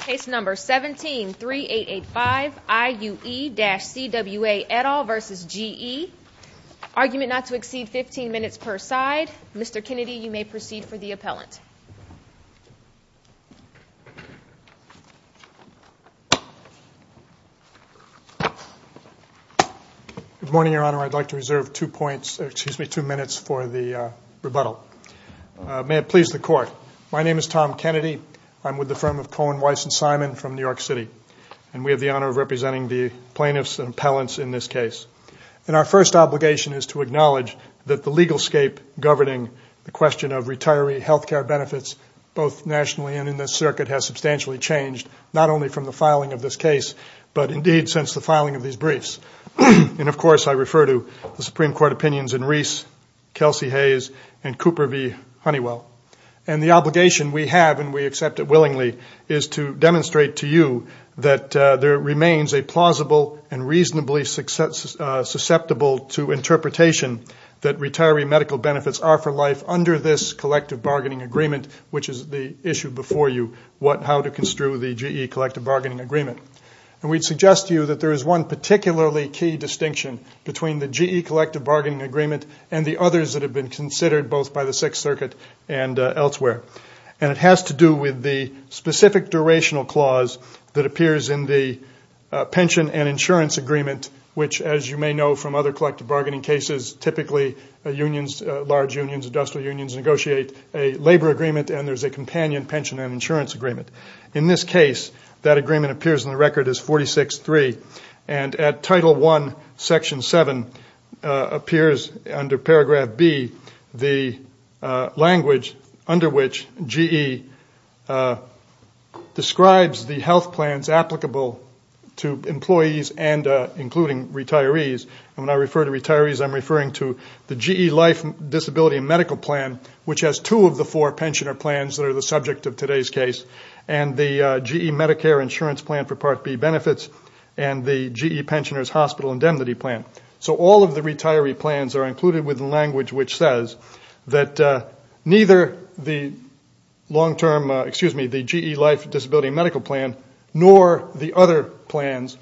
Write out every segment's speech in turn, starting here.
Case number 17-3885, IUE-CWA et al. v. GE, argument not to exceed 15 minutes per side. Mr. Kennedy, you may proceed for the appellant. Good morning, Your Honor. I'd like to reserve two minutes for the rebuttal. May it please the Court. My name is Tom Kennedy. I'm with the firm of Cohen, Weiss & Simon from New York City. And we have the honor of representing the plaintiffs and appellants in this case. And our first obligation is to acknowledge that the legal scape governing the question of retiree health care benefits, both nationally and in this circuit, has substantially changed, not only from the filing of this case, but indeed since the filing of these briefs. And, of course, I refer to the Supreme Court opinions in Reese, Kelsey Hayes, and Cooper v. Honeywell. And the obligation we have, and we accept it willingly, is to demonstrate to you that there remains a plausible and reasonably susceptible to interpretation that retiree medical benefits are for life under this collective bargaining agreement, which is the issue before you, how to construe the GE collective bargaining agreement. And we'd suggest to you that there is one particularly key distinction between the GE collective bargaining agreement and the others that have been considered both by the Sixth Circuit and elsewhere. And it has to do with the specific durational clause that appears in the pension and insurance agreement, which, as you may know from other collective bargaining cases, typically unions, large unions, industrial unions, negotiate a labor agreement and there's a companion pension and insurance agreement. In this case, that agreement appears in the record as 46-3. And at Title I, Section 7, appears under Paragraph B the language under which GE describes the health plans applicable to employees and including retirees. And when I refer to retirees, I'm referring to the GE life, disability, and medical plan, which has two of the four pensioner plans that are the subject of today's case, and the GE Medicare insurance plan for Part B benefits, and the GE pensioner's hospital indemnity plan. So all of the retiree plans are included with the language which says that neither the GE life, disability, and medical plan nor the other plans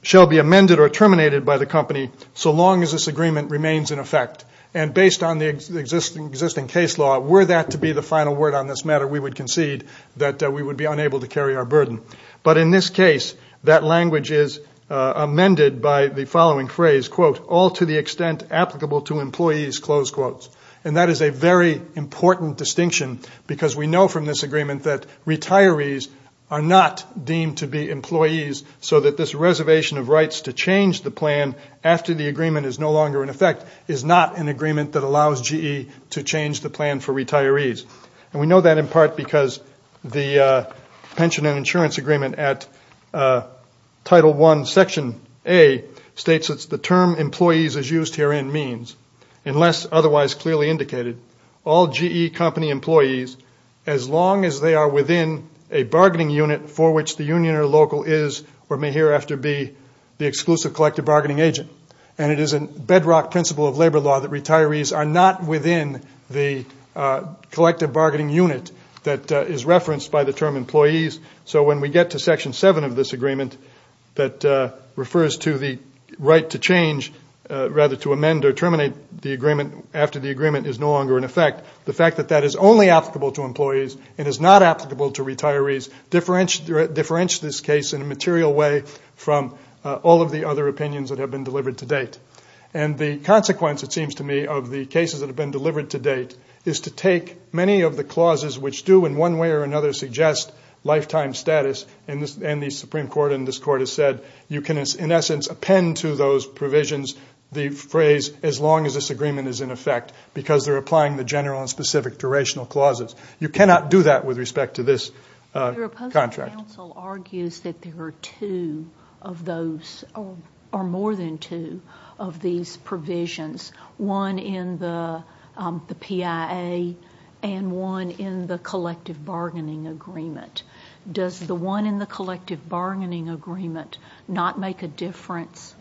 shall be amended or terminated by the company so long as this agreement remains in effect. And based on the existing case law, were that to be the final word on this matter, we would concede that we would be unable to carry our burden. But in this case, that language is amended by the following phrase, quote, all to the extent applicable to employees, close quotes. And that is a very important distinction because we know from this agreement that retirees are not deemed to be employees so that this reservation of rights to change the plan after the agreement is no longer in effect is not an agreement that allows GE to change the plan for retirees. And we know that in part because the pension and insurance agreement at Title I, Section A, states it's the term employees as used herein means, unless otherwise clearly indicated, all GE company employees as long as they are within a bargaining unit for which the union or local is or may hereafter be the exclusive collective bargaining agent. And it is a bedrock principle of labor law that retirees are not within the collective bargaining unit that is referenced by the term employees. So when we get to Section 7 of this agreement that refers to the right to change, rather to amend or terminate the agreement after the agreement is no longer in effect, the fact that that is only applicable to employees and is not applicable to retirees differentiates this case in a material way from all of the other opinions that have been delivered to date. And the consequence, it seems to me, of the cases that have been delivered to date is to take many of the clauses which do in one way or another suggest lifetime status, and the Supreme Court in this court has said you can, in essence, append to those provisions the phrase as long as this agreement is in effect because they're applying the general and specific durational clauses. You cannot do that with respect to this contract. Your opposing counsel argues that there are two of those or more than two of these provisions, one in the PIA and one in the collective bargaining agreement. Does the one in the collective bargaining agreement not make a difference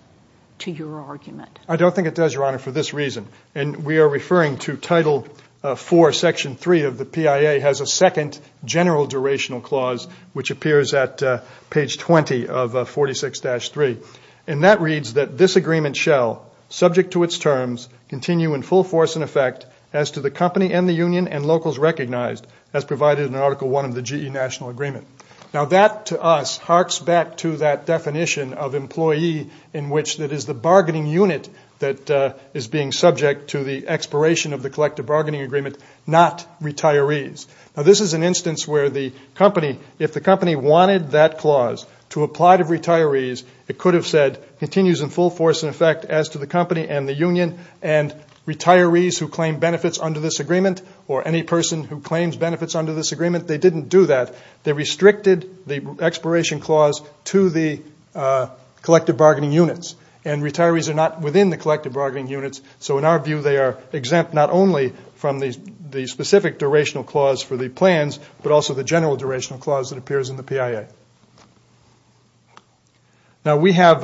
to your argument? I don't think it does, Your Honor, for this reason, and we are referring to Title IV, Section 3 of the PIA has a second general durational clause which appears at page 20 of 46-3, and that reads that this agreement shall, subject to its terms, continue in full force and effect as to the company and the union and locals recognized, as provided in Article I of the GE National Agreement. Now, that to us harks back to that definition of employee in which it is the bargaining unit that is being subject to the expiration of the collective bargaining agreement, not retirees. Now, this is an instance where the company, if the company wanted that clause to apply to retirees, it could have said continues in full force and effect as to the company and the union and retirees who claim benefits under this agreement or any person who claims benefits under this agreement, they didn't do that. They restricted the expiration clause to the collective bargaining units, and retirees are not within the collective bargaining units, so in our view they are exempt not only from the specific durational clause for the plans but also the general durational clause that appears in the PIA. Now, we have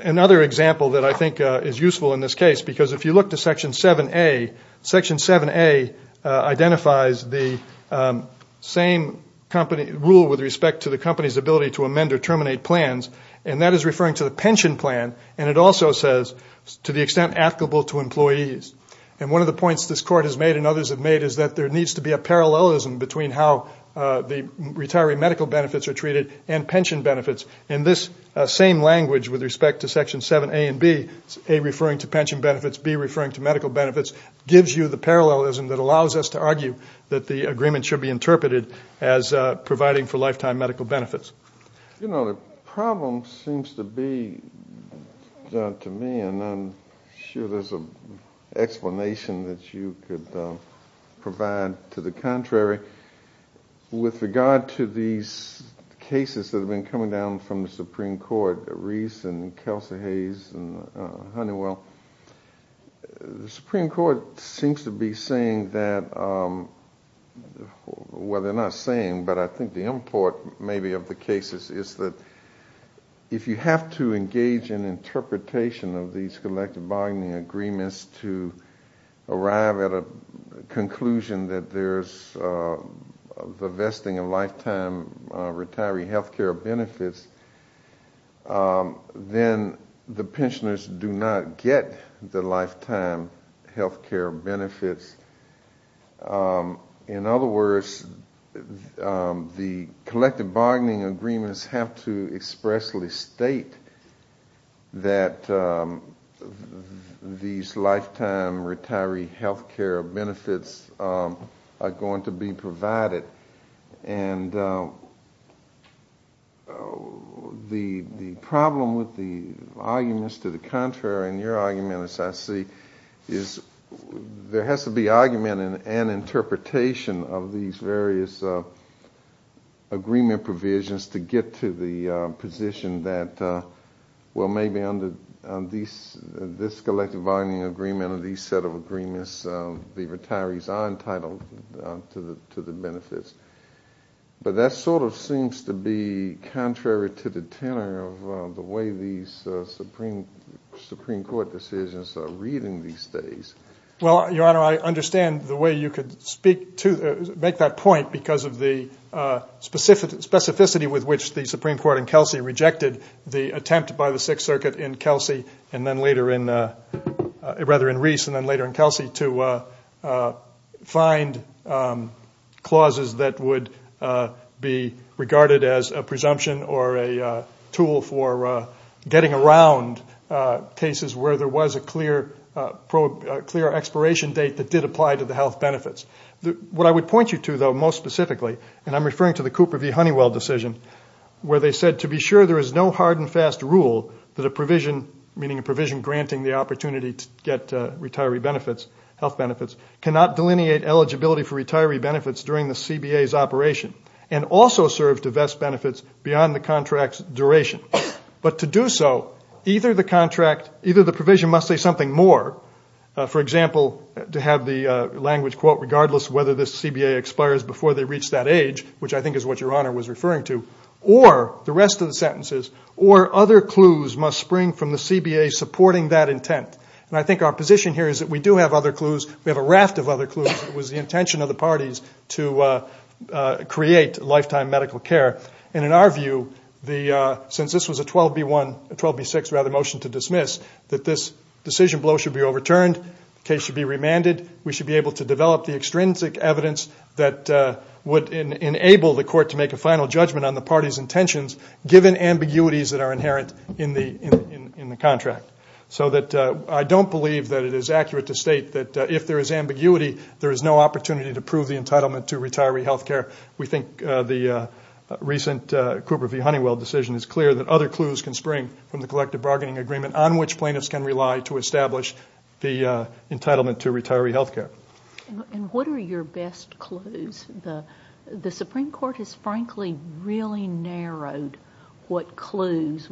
another example that I think is useful in this case because if you look to Section 7A, Section 7A identifies the same rule with respect to the company's ability to amend or terminate plans, and that is referring to the pension plan, and it also says to the extent applicable to employees, and one of the points this Court has made and others have made is that there needs to be a parallelism between how the retiree medical benefits are treated and pension benefits. In this same language with respect to Section 7A and B, A referring to pension benefits, B referring to medical benefits, gives you the parallelism that allows us to argue that the agreement should be interpreted as providing for lifetime medical benefits. You know, the problem seems to be, John, to me, and I'm sure there's an explanation that you could provide to the contrary, with regard to these cases that have been coming down from the Supreme Court, Reese and Kelsey Hayes and Honeywell, the Supreme Court seems to be saying that, well, they're not saying, but I think the import maybe of the cases is that if you have to engage in interpretation of these collective bargaining agreements to arrive at a conclusion that there's the vesting of lifetime retiree health care benefits, then the pensioners do not get the lifetime health care benefits. In other words, the collective bargaining agreements have to expressly state that these lifetime retiree health care benefits are going to be provided, and the problem with the arguments to the contrary in your argument, as I see, is there has to be argument and interpretation of these various agreement provisions to get to the position that, well, maybe under this collective bargaining agreement under these set of agreements, the retirees are entitled to the benefits. But that sort of seems to be contrary to the tenor of the way these Supreme Court decisions are reading these days. Well, Your Honor, I understand the way you could make that point because of the specificity with which the Supreme Court and Kelsey rejected the attempt by the Sixth Circuit in Kelsey and then later in Reese and then later in Kelsey to find clauses that would be regarded as a presumption or a tool for getting around cases where there was a clear expiration date that did apply to the health benefits. What I would point you to, though, most specifically, and I'm referring to the Cooper v. Honeywell decision, where they said, to be sure there is no hard and fast rule that a provision, meaning a provision granting the opportunity to get retiree benefits, health benefits, cannot delineate eligibility for retiree benefits during the CBA's operation and also serve to vest benefits beyond the contract's duration. But to do so, either the contract, either the provision must say something more, for example, to have the language, quote, regardless whether this CBA expires before they reach that age, which I think is what Your Honor was referring to, or the rest of the sentences, or other clues must spring from the CBA supporting that intent. And I think our position here is that we do have other clues. We have a raft of other clues. It was the intention of the parties to create lifetime medical care. And in our view, since this was a 12B6 motion to dismiss, that this decision blow should be overturned. The case should be remanded. We should be able to develop the extrinsic evidence that would enable the court to make a final judgment on the party's intentions given ambiguities that are inherent in the contract. So I don't believe that it is accurate to state that if there is ambiguity, there is no opportunity to prove the entitlement to retiree health care. We think the recent Cooper v. Honeywell decision is clear that other clues can spring from the collective bargaining agreement on which plaintiffs can rely to establish the entitlement to retiree health care. And what are your best clues? The Supreme Court has frankly really narrowed what clues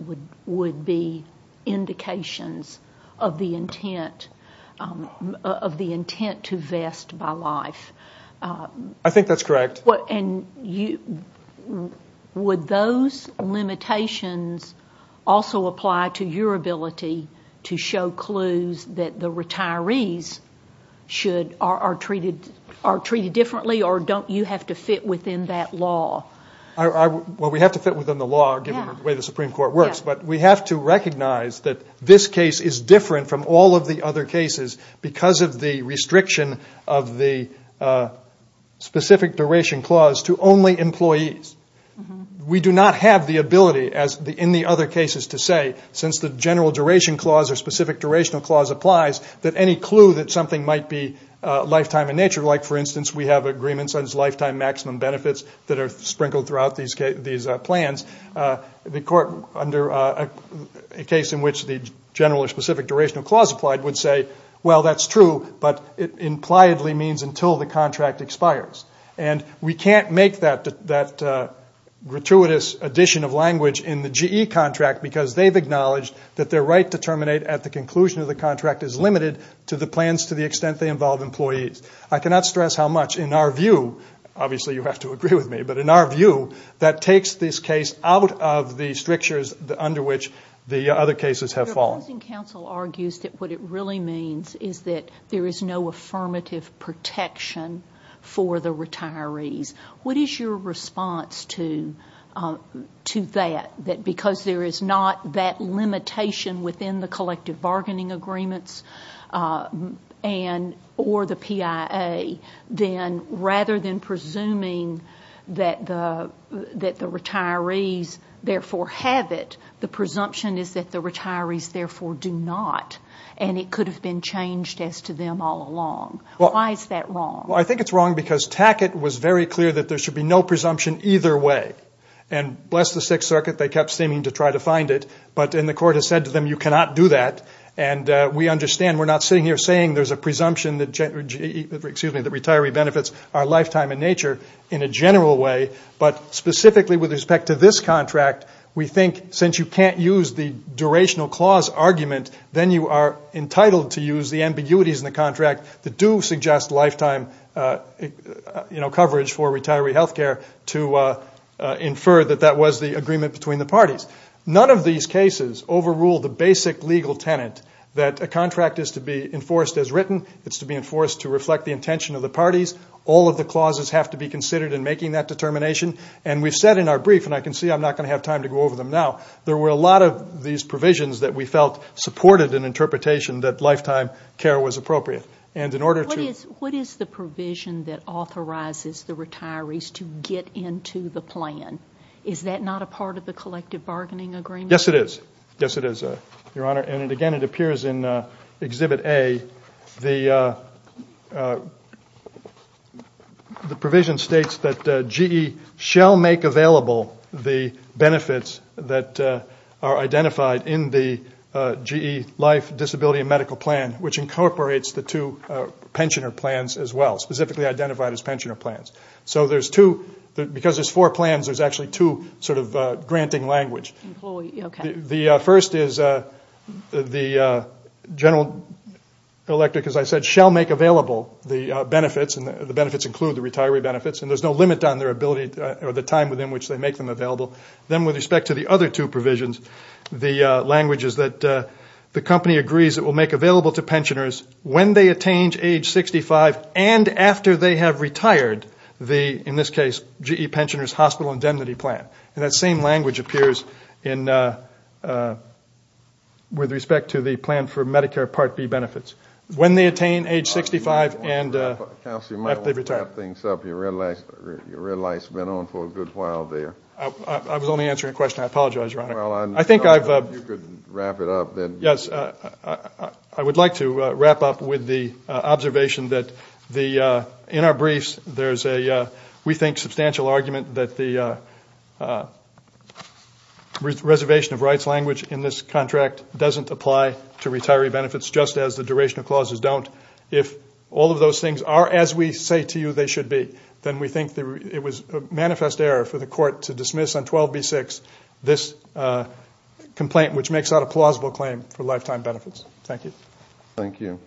would be indications of the intent to vest by life. I think that's correct. Would those limitations also apply to your ability to show clues that the retirees are treated differently or don't you have to fit within that law? Well, we have to fit within the law given the way the Supreme Court works. But we have to recognize that this case is different from all of the other cases because of the restriction of the specific duration clause to only employees. We do not have the ability in the other cases to say, since the general duration clause or specific durational clause applies, that any clue that something might be lifetime in nature, like, for instance, we have agreements on lifetime maximum benefits that are sprinkled throughout these plans, the court under a case in which the general or specific durational clause applied would say, well, that's true, but it impliedly means until the contract expires. And we can't make that gratuitous addition of language in the GE contract because they've acknowledged that their right to terminate at the conclusion of the contract is limited to the plans to the extent they involve employees. I cannot stress how much in our view, obviously you have to agree with me, but in our view that takes this case out of the strictures under which the other cases have fallen. The Housing Council argues that what it really means is that there is no affirmative protection for the retirees. What is your response to that, that because there is not that limitation within the collective bargaining agreements or the PIA, then rather than presuming that the retirees therefore have it, the presumption is that the retirees therefore do not, and it could have been changed as to them all along. Why is that wrong? Well, I think it's wrong because Tackett was very clear that there should be no presumption either way. And bless the Sixth Circuit, they kept seeming to try to find it, but then the court has said to them you cannot do that, and we understand we're not sitting here saying there's a presumption that retiree benefits are lifetime in nature in a general way, but specifically with respect to this contract, we think since you can't use the durational clause argument, then you are entitled to use the ambiguities in the contract that do suggest lifetime coverage for retiree health care to infer that that was the agreement between the parties. None of these cases overrule the basic legal tenet that a contract is to be enforced as written, it's to be enforced to reflect the intention of the parties, all of the clauses have to be considered in making that determination, and we've said in our brief, and I can see I'm not going to have time to go over them now, there were a lot of these provisions that we felt supported an interpretation that lifetime care was appropriate. And in order to... What is the provision that authorizes the retirees to get into the plan? Is that not a part of the collective bargaining agreement? Yes, it is. Yes, it is, Your Honor. And again, it appears in Exhibit A, the provision states that GE shall make available the benefits that are identified in the GE life, disability, and medical plan, which incorporates the two pensioner plans as well, specifically identified as pensioner plans. So there's two, because there's four plans, there's actually two sort of granting language. Employee, okay. The first is the general electric, as I said, shall make available the benefits, and the benefits include the retiree benefits, and there's no limit on their ability or the time within which they make them available. Then with respect to the other two provisions, the language is that the company agrees it will make available to pensioners when they attain age 65 and after they have retired the, in this case, GE pensioner's hospital indemnity plan. And that same language appears in, with respect to the plan for Medicare Part B benefits. When they attain age 65 and after they've retired. Counselor, you might want to wrap things up. Your red light's been on for a good while there. I was only answering a question. I apologize, Your Honor. I think I've. If you could wrap it up. Yes. I would like to wrap up with the observation that the, in our briefs, there's a, we think, substantial argument that the reservation of rights language in this contract doesn't apply to retiree benefits just as the duration of clauses don't. If all of those things are as we say to you they should be, then we think it was a manifest error for the court to dismiss on 12B6 this complaint, which makes that a plausible claim for lifetime benefits. Thank you. Thank you.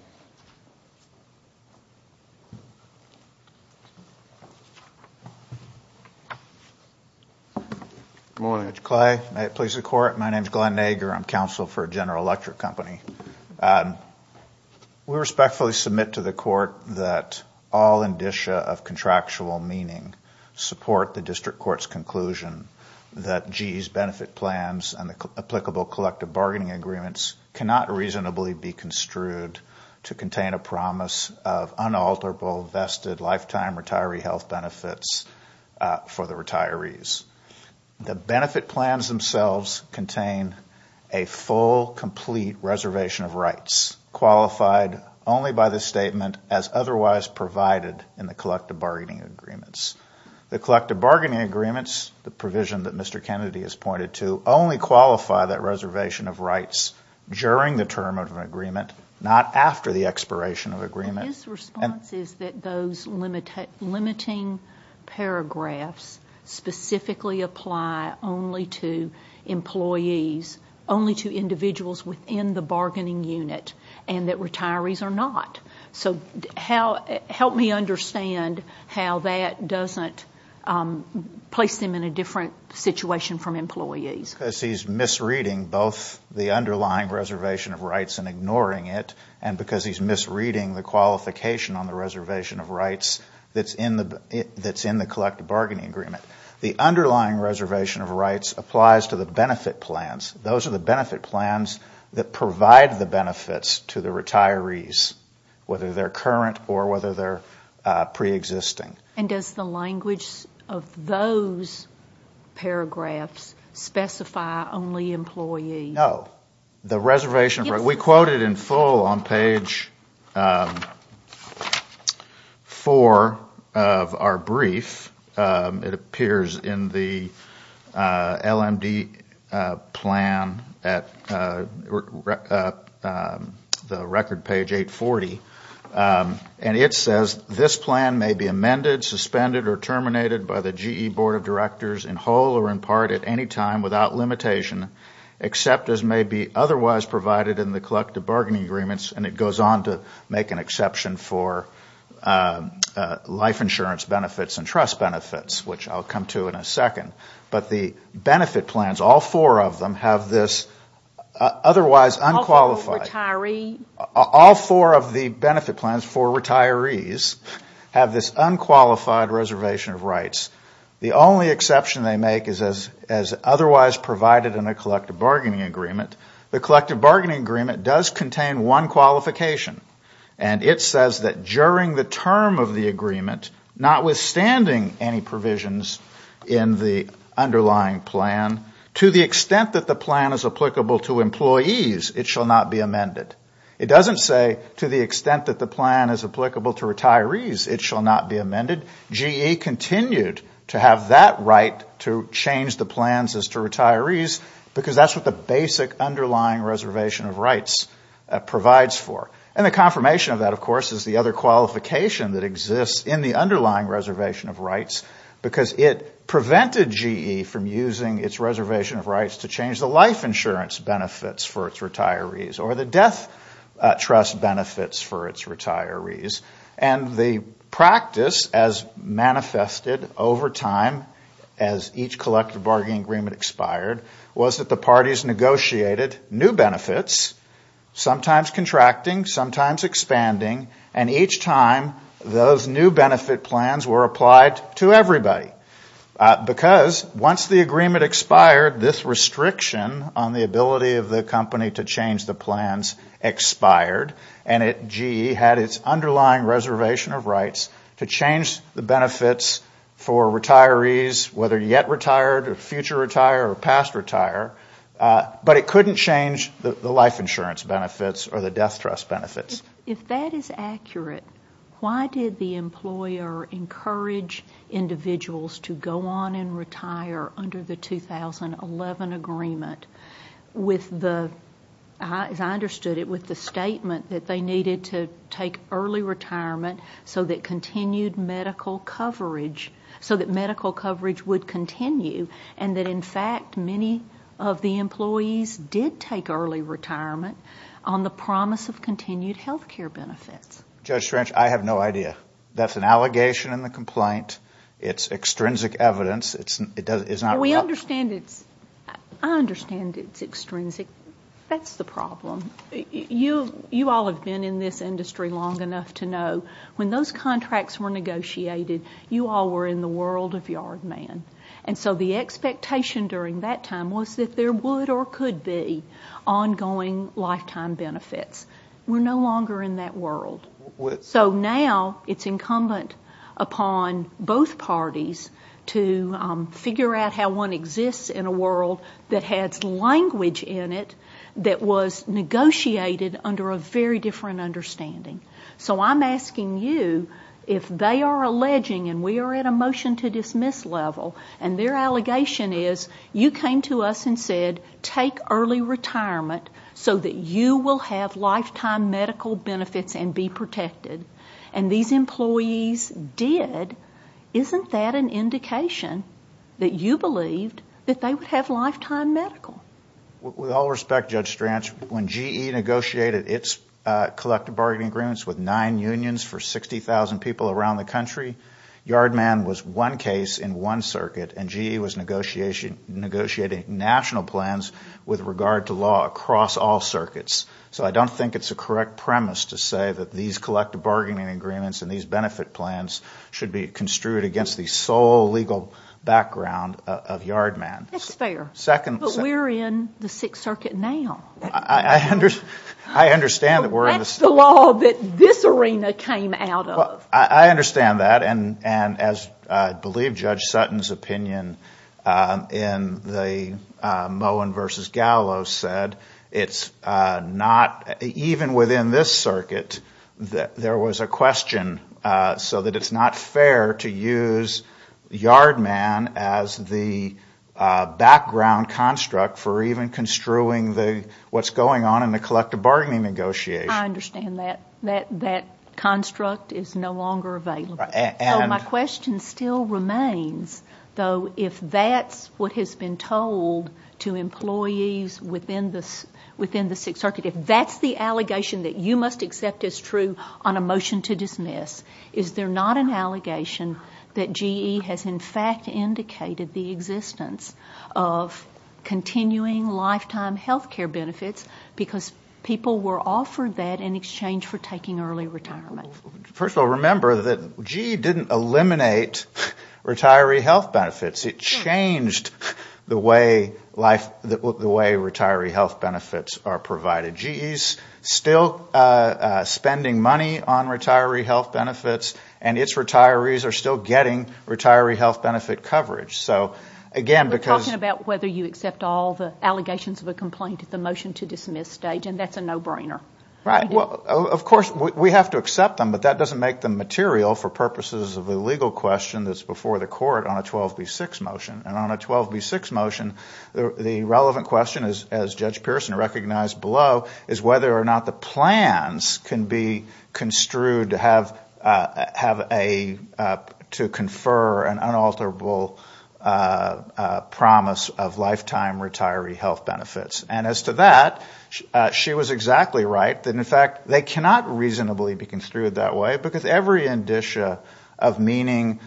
Good morning, Judge Clay. May it please the court. My name's Glenn Nager. I'm counsel for General Electric Company. We respectfully submit to the court that all indicia of contractual meaning support the district court's conclusion that GE's benefit plans and the applicable collective bargaining agreements cannot reasonably be construed to contain a promise of unalterable vested lifetime retiree health benefits for the retirees. The benefit plans themselves contain a full, complete reservation of rights, qualified only by the statement as otherwise provided in the collective bargaining agreements. The collective bargaining agreements, the provision that Mr. Kennedy has pointed to, only qualify that reservation of rights during the term of an agreement, not after the expiration of an agreement. His response is that those limiting paragraphs specifically apply only to employees, only to individuals within the bargaining unit, and that retirees are not. So help me understand how that doesn't place them in a different situation from employees. Because he's misreading both the underlying reservation of rights and ignoring it, and because he's misreading the qualification on the reservation of rights that's in the collective bargaining agreement. The underlying reservation of rights applies to the benefit plans. Those are the benefit plans that provide the benefits to the retirees, whether they're current or whether they're preexisting. And does the language of those paragraphs specify only employees? No. The reservation of rights, we quote it in full on page four of our brief. It appears in the LMD plan at the record page 840. And it says, this plan may be amended, suspended, or terminated by the GE Board of Directors in whole or in part at any time without limitation, except as may be otherwise provided in the collective bargaining agreements. And it goes on to make an exception for life insurance benefits and trust benefits, which I'll come to in a second. But the benefit plans, all four of them, have this otherwise unqualified. All four of the benefit plans for retirees have this unqualified reservation of rights. The only exception they make is as otherwise provided in a collective bargaining agreement. The collective bargaining agreement does contain one qualification. And it says that during the term of the agreement, notwithstanding any provisions in the underlying plan, to the extent that the plan is applicable to employees, it shall not be amended. It doesn't say to the extent that the plan is applicable to retirees, it shall not be amended. GE continued to have that right to change the plans as to retirees because that's what the basic underlying reservation of rights provides for. And the confirmation of that, of course, is the other qualification that exists in the underlying reservation of rights because it prevented GE from using its reservation of rights to change the life insurance benefits for its retirees or the death trust benefits for its retirees. And the practice, as manifested over time as each collective bargaining agreement expired, was that the parties negotiated new benefits, sometimes contracting, sometimes expanding. And each time, those new benefit plans were applied to everybody because once the agreement expired, this restriction on the ability of the company to change the plans expired. And GE had its underlying reservation of rights to change the benefits for retirees, whether yet retired or future retire or past retire, but it couldn't change the life insurance benefits or the death trust benefits. If that is accurate, why did the employer encourage individuals to go on and retire under the 2011 agreement with the, as I understood it, with the statement that they needed to take early retirement so that continued medical coverage, so that medical coverage would continue and that, in fact, many of the employees did take early retirement on the promise of continued health care benefits? Judge Strange, I have no idea. That's an allegation in the complaint. It's extrinsic evidence. We understand it's – I understand it's extrinsic. That's the problem. You all have been in this industry long enough to know when those contracts were negotiated, you all were in the world of Yard Man. And so the expectation during that time was that there would or could be ongoing lifetime benefits. We're no longer in that world. So now it's incumbent upon both parties to figure out how one exists in a world that has language in it that was negotiated under a very different understanding. So I'm asking you if they are alleging, and we are at a motion-to-dismiss level, and their allegation is you came to us and said, take early retirement so that you will have lifetime medical benefits and be protected, and these employees did, isn't that an indication that you believed that they would have lifetime medical? With all respect, Judge Strange, when GE negotiated its collective bargaining agreements with nine unions for 60,000 people around the country, Yard Man was one case in one circuit, and GE was negotiating national plans with regard to law across all circuits. So I don't think it's a correct premise to say that these collective bargaining agreements and these benefit plans should be construed against the sole legal background of Yard Man. That's fair. But we're in the Sixth Circuit now. I understand that we're in the Sixth Circuit. That's the law that this arena came out of. I understand that, and as I believe Judge Sutton's opinion in the Moen v. Gallo said, it's not, even within this circuit, there was a question so that it's not fair to use Yard Man as the background construct for even construing what's going on in the collective bargaining negotiations. I understand that that construct is no longer available. So my question still remains, though, if that's what has been told to employees within the Sixth Circuit, if that's the allegation that you must accept as true on a motion to dismiss, is there not an allegation that GE has in fact indicated the existence of continuing lifetime health care benefits because people were offered that in exchange for taking early retirement? First of all, remember that GE didn't eliminate retiree health benefits. It changed the way retiree health benefits are provided. GE is still spending money on retiree health benefits, and its retirees are still getting retiree health benefit coverage. We're talking about whether you accept all the allegations of a complaint at the motion to dismiss stage, and that's a no-brainer. Right. Of course, we have to accept them, but that doesn't make them material for purposes of the legal question that's before the court on a 12B6 motion. And on a 12B6 motion, the relevant question, as Judge Pearson recognized below, is whether or not the plans can be construed to confer an unalterable promise of lifetime retiree health benefits. And as to that, she was exactly right that, in fact, they cannot reasonably be construed that way because every indicia of meaning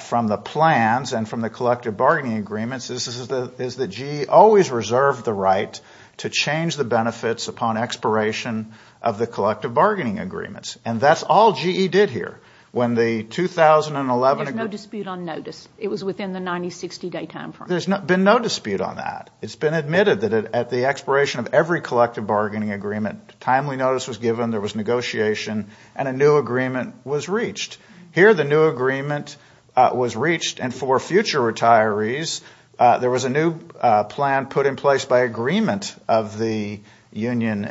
from the plans and from the collective bargaining agreements is that GE always reserved the right to change the benefits upon expiration of the collective bargaining agreements. And that's all GE did here. When the 2011 agreement ---- There's no dispute on notice. It was within the 90-60 day time frame. There's been no dispute on that. It's been admitted that at the expiration of every collective bargaining agreement, Here the new agreement was reached, and for future retirees, there was a new plan put in place by agreement of the unions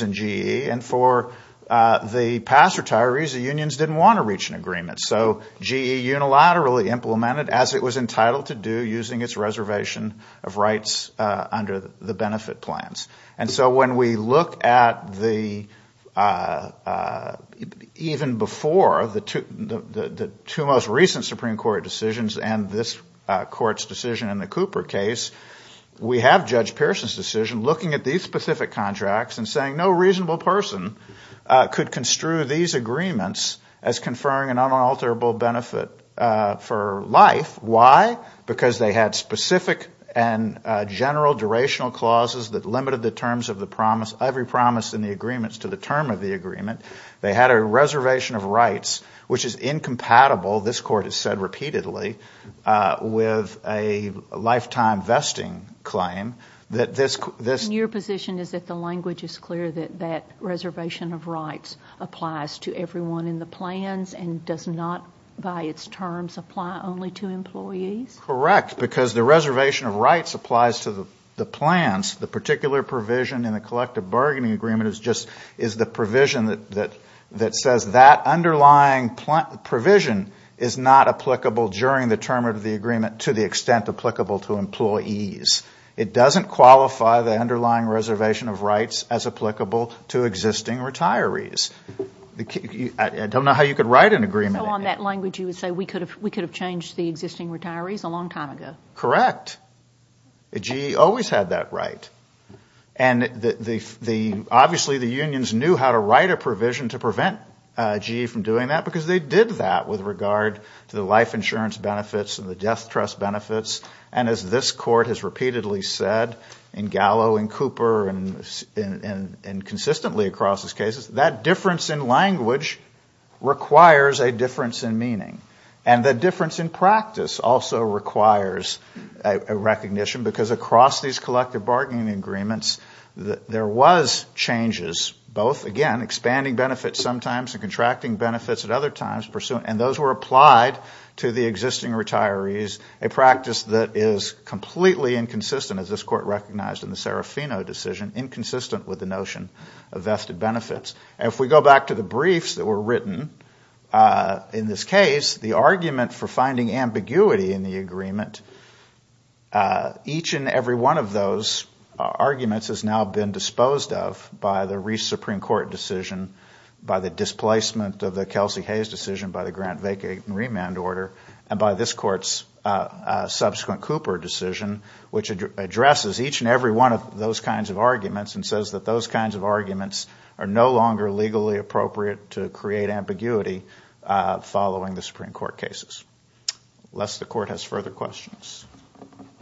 and GE, and for the past retirees, the unions didn't want to reach an agreement. So GE unilaterally implemented, as it was entitled to do, using its reservation of rights under the benefit plans. And so when we look at the ---- Even before the two most recent Supreme Court decisions and this Court's decision in the Cooper case, we have Judge Pearson's decision looking at these specific contracts and saying no reasonable person could construe these agreements as conferring an unalterable benefit for life. Why? Because they had specific and general durational clauses that limited the terms of the promise, every promise in the agreements, to the term of the agreement. They had a reservation of rights which is incompatible, this Court has said repeatedly, with a lifetime vesting claim that this ---- And your position is that the language is clear that that reservation of rights applies to everyone in the plans and does not by its terms apply only to employees? Correct, because the reservation of rights applies to the plans. The particular provision in the collective bargaining agreement is the provision that says that underlying provision is not applicable during the term of the agreement to the extent applicable to employees. It doesn't qualify the underlying reservation of rights as applicable to existing retirees. I don't know how you could write an agreement. So on that language you would say we could have changed the existing retirees a long time ago? Correct. GE always had that right. And obviously the unions knew how to write a provision to prevent GE from doing that because they did that with regard to the life insurance benefits and the death trust benefits. And as this Court has repeatedly said in Gallo and Cooper and consistently across these cases, that difference in language requires a difference in meaning. And the difference in practice also requires a recognition because across these collective bargaining agreements there was changes both, again, expanding benefits sometimes and contracting benefits at other times. And those were applied to the existing retirees, a practice that is completely inconsistent, as this Court recognized in the Serafino decision, inconsistent with the notion of vested benefits. And if we go back to the briefs that were written in this case, the argument for finding ambiguity in the agreement, each and every one of those arguments has now been disposed of by the Reese Supreme Court decision, by the displacement of the Kelsey-Hayes decision by the Grant-Vacay remand order, and by this Court's subsequent Cooper decision, which addresses each and every one of those kinds of arguments and says that those kinds of arguments are no longer legally appropriate to create ambiguity following the Supreme Court cases. Unless the Court has further questions.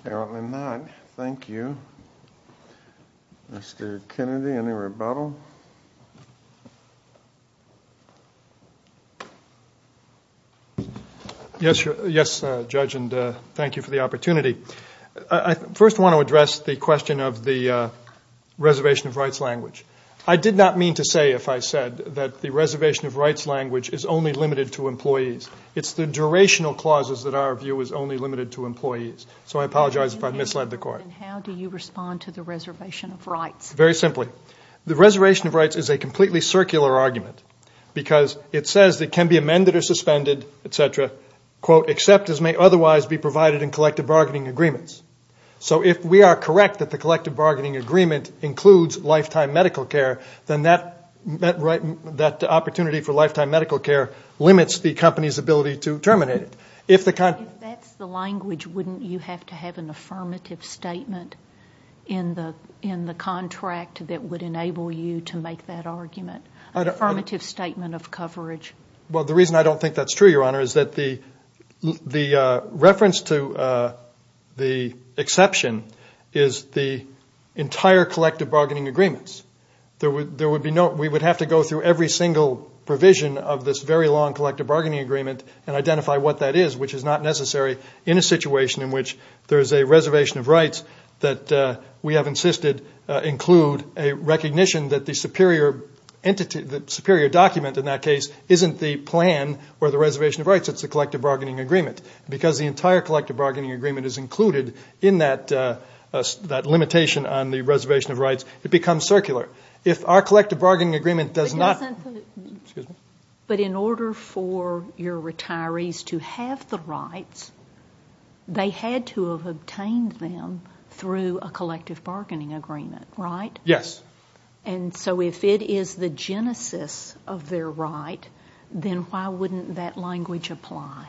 Apparently not. Thank you. Mr. Kennedy, any rebuttal? Yes, Judge, and thank you for the opportunity. I first want to address the question of the reservation of rights language. I did not mean to say, if I said, that the reservation of rights language is only limited to employees. It's the durational clauses that our view is only limited to employees, so I apologize if I've misled the Court. And how do you respond to the reservation of rights? Very simply. The reservation of rights is a completely circular argument because it says it can be amended or suspended, et cetera, quote, except as may otherwise be provided in collective bargaining agreements. So if we are correct that the collective bargaining agreement includes lifetime medical care, then that opportunity for lifetime medical care limits the company's ability to terminate it. If that's the language, wouldn't you have to have an affirmative statement in the contract that would enable you to make that argument, an affirmative statement of coverage? Well, the reason I don't think that's true, Your Honor, is that the reference to the exception is the entire collective bargaining agreements. We would have to go through every single provision of this very long collective bargaining agreement and identify what that is, which is not necessary in a situation in which there is a reservation of rights that we have insisted include a recognition that the superior document in that case isn't the plan or the reservation of rights, it's the collective bargaining agreement. Because the entire collective bargaining agreement is included in that limitation on the reservation of rights, it becomes circular. But in order for your retirees to have the rights, they had to have obtained them through a collective bargaining agreement, right? Yes. And so if it is the genesis of their right, then why wouldn't that language apply?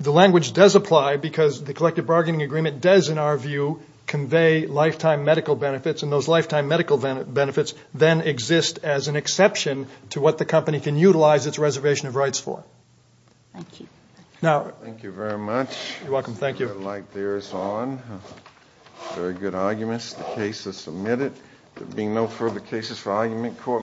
The language does apply because the collective bargaining agreement does, in our view, convey lifetime medical benefits, and those lifetime medical benefits then exist as an exception to what the company can utilize its reservation of rights for. Thank you. Thank you very much. You're welcome. Thank you. The light there is on. Very good arguments. The case is submitted. There being no further cases for argument,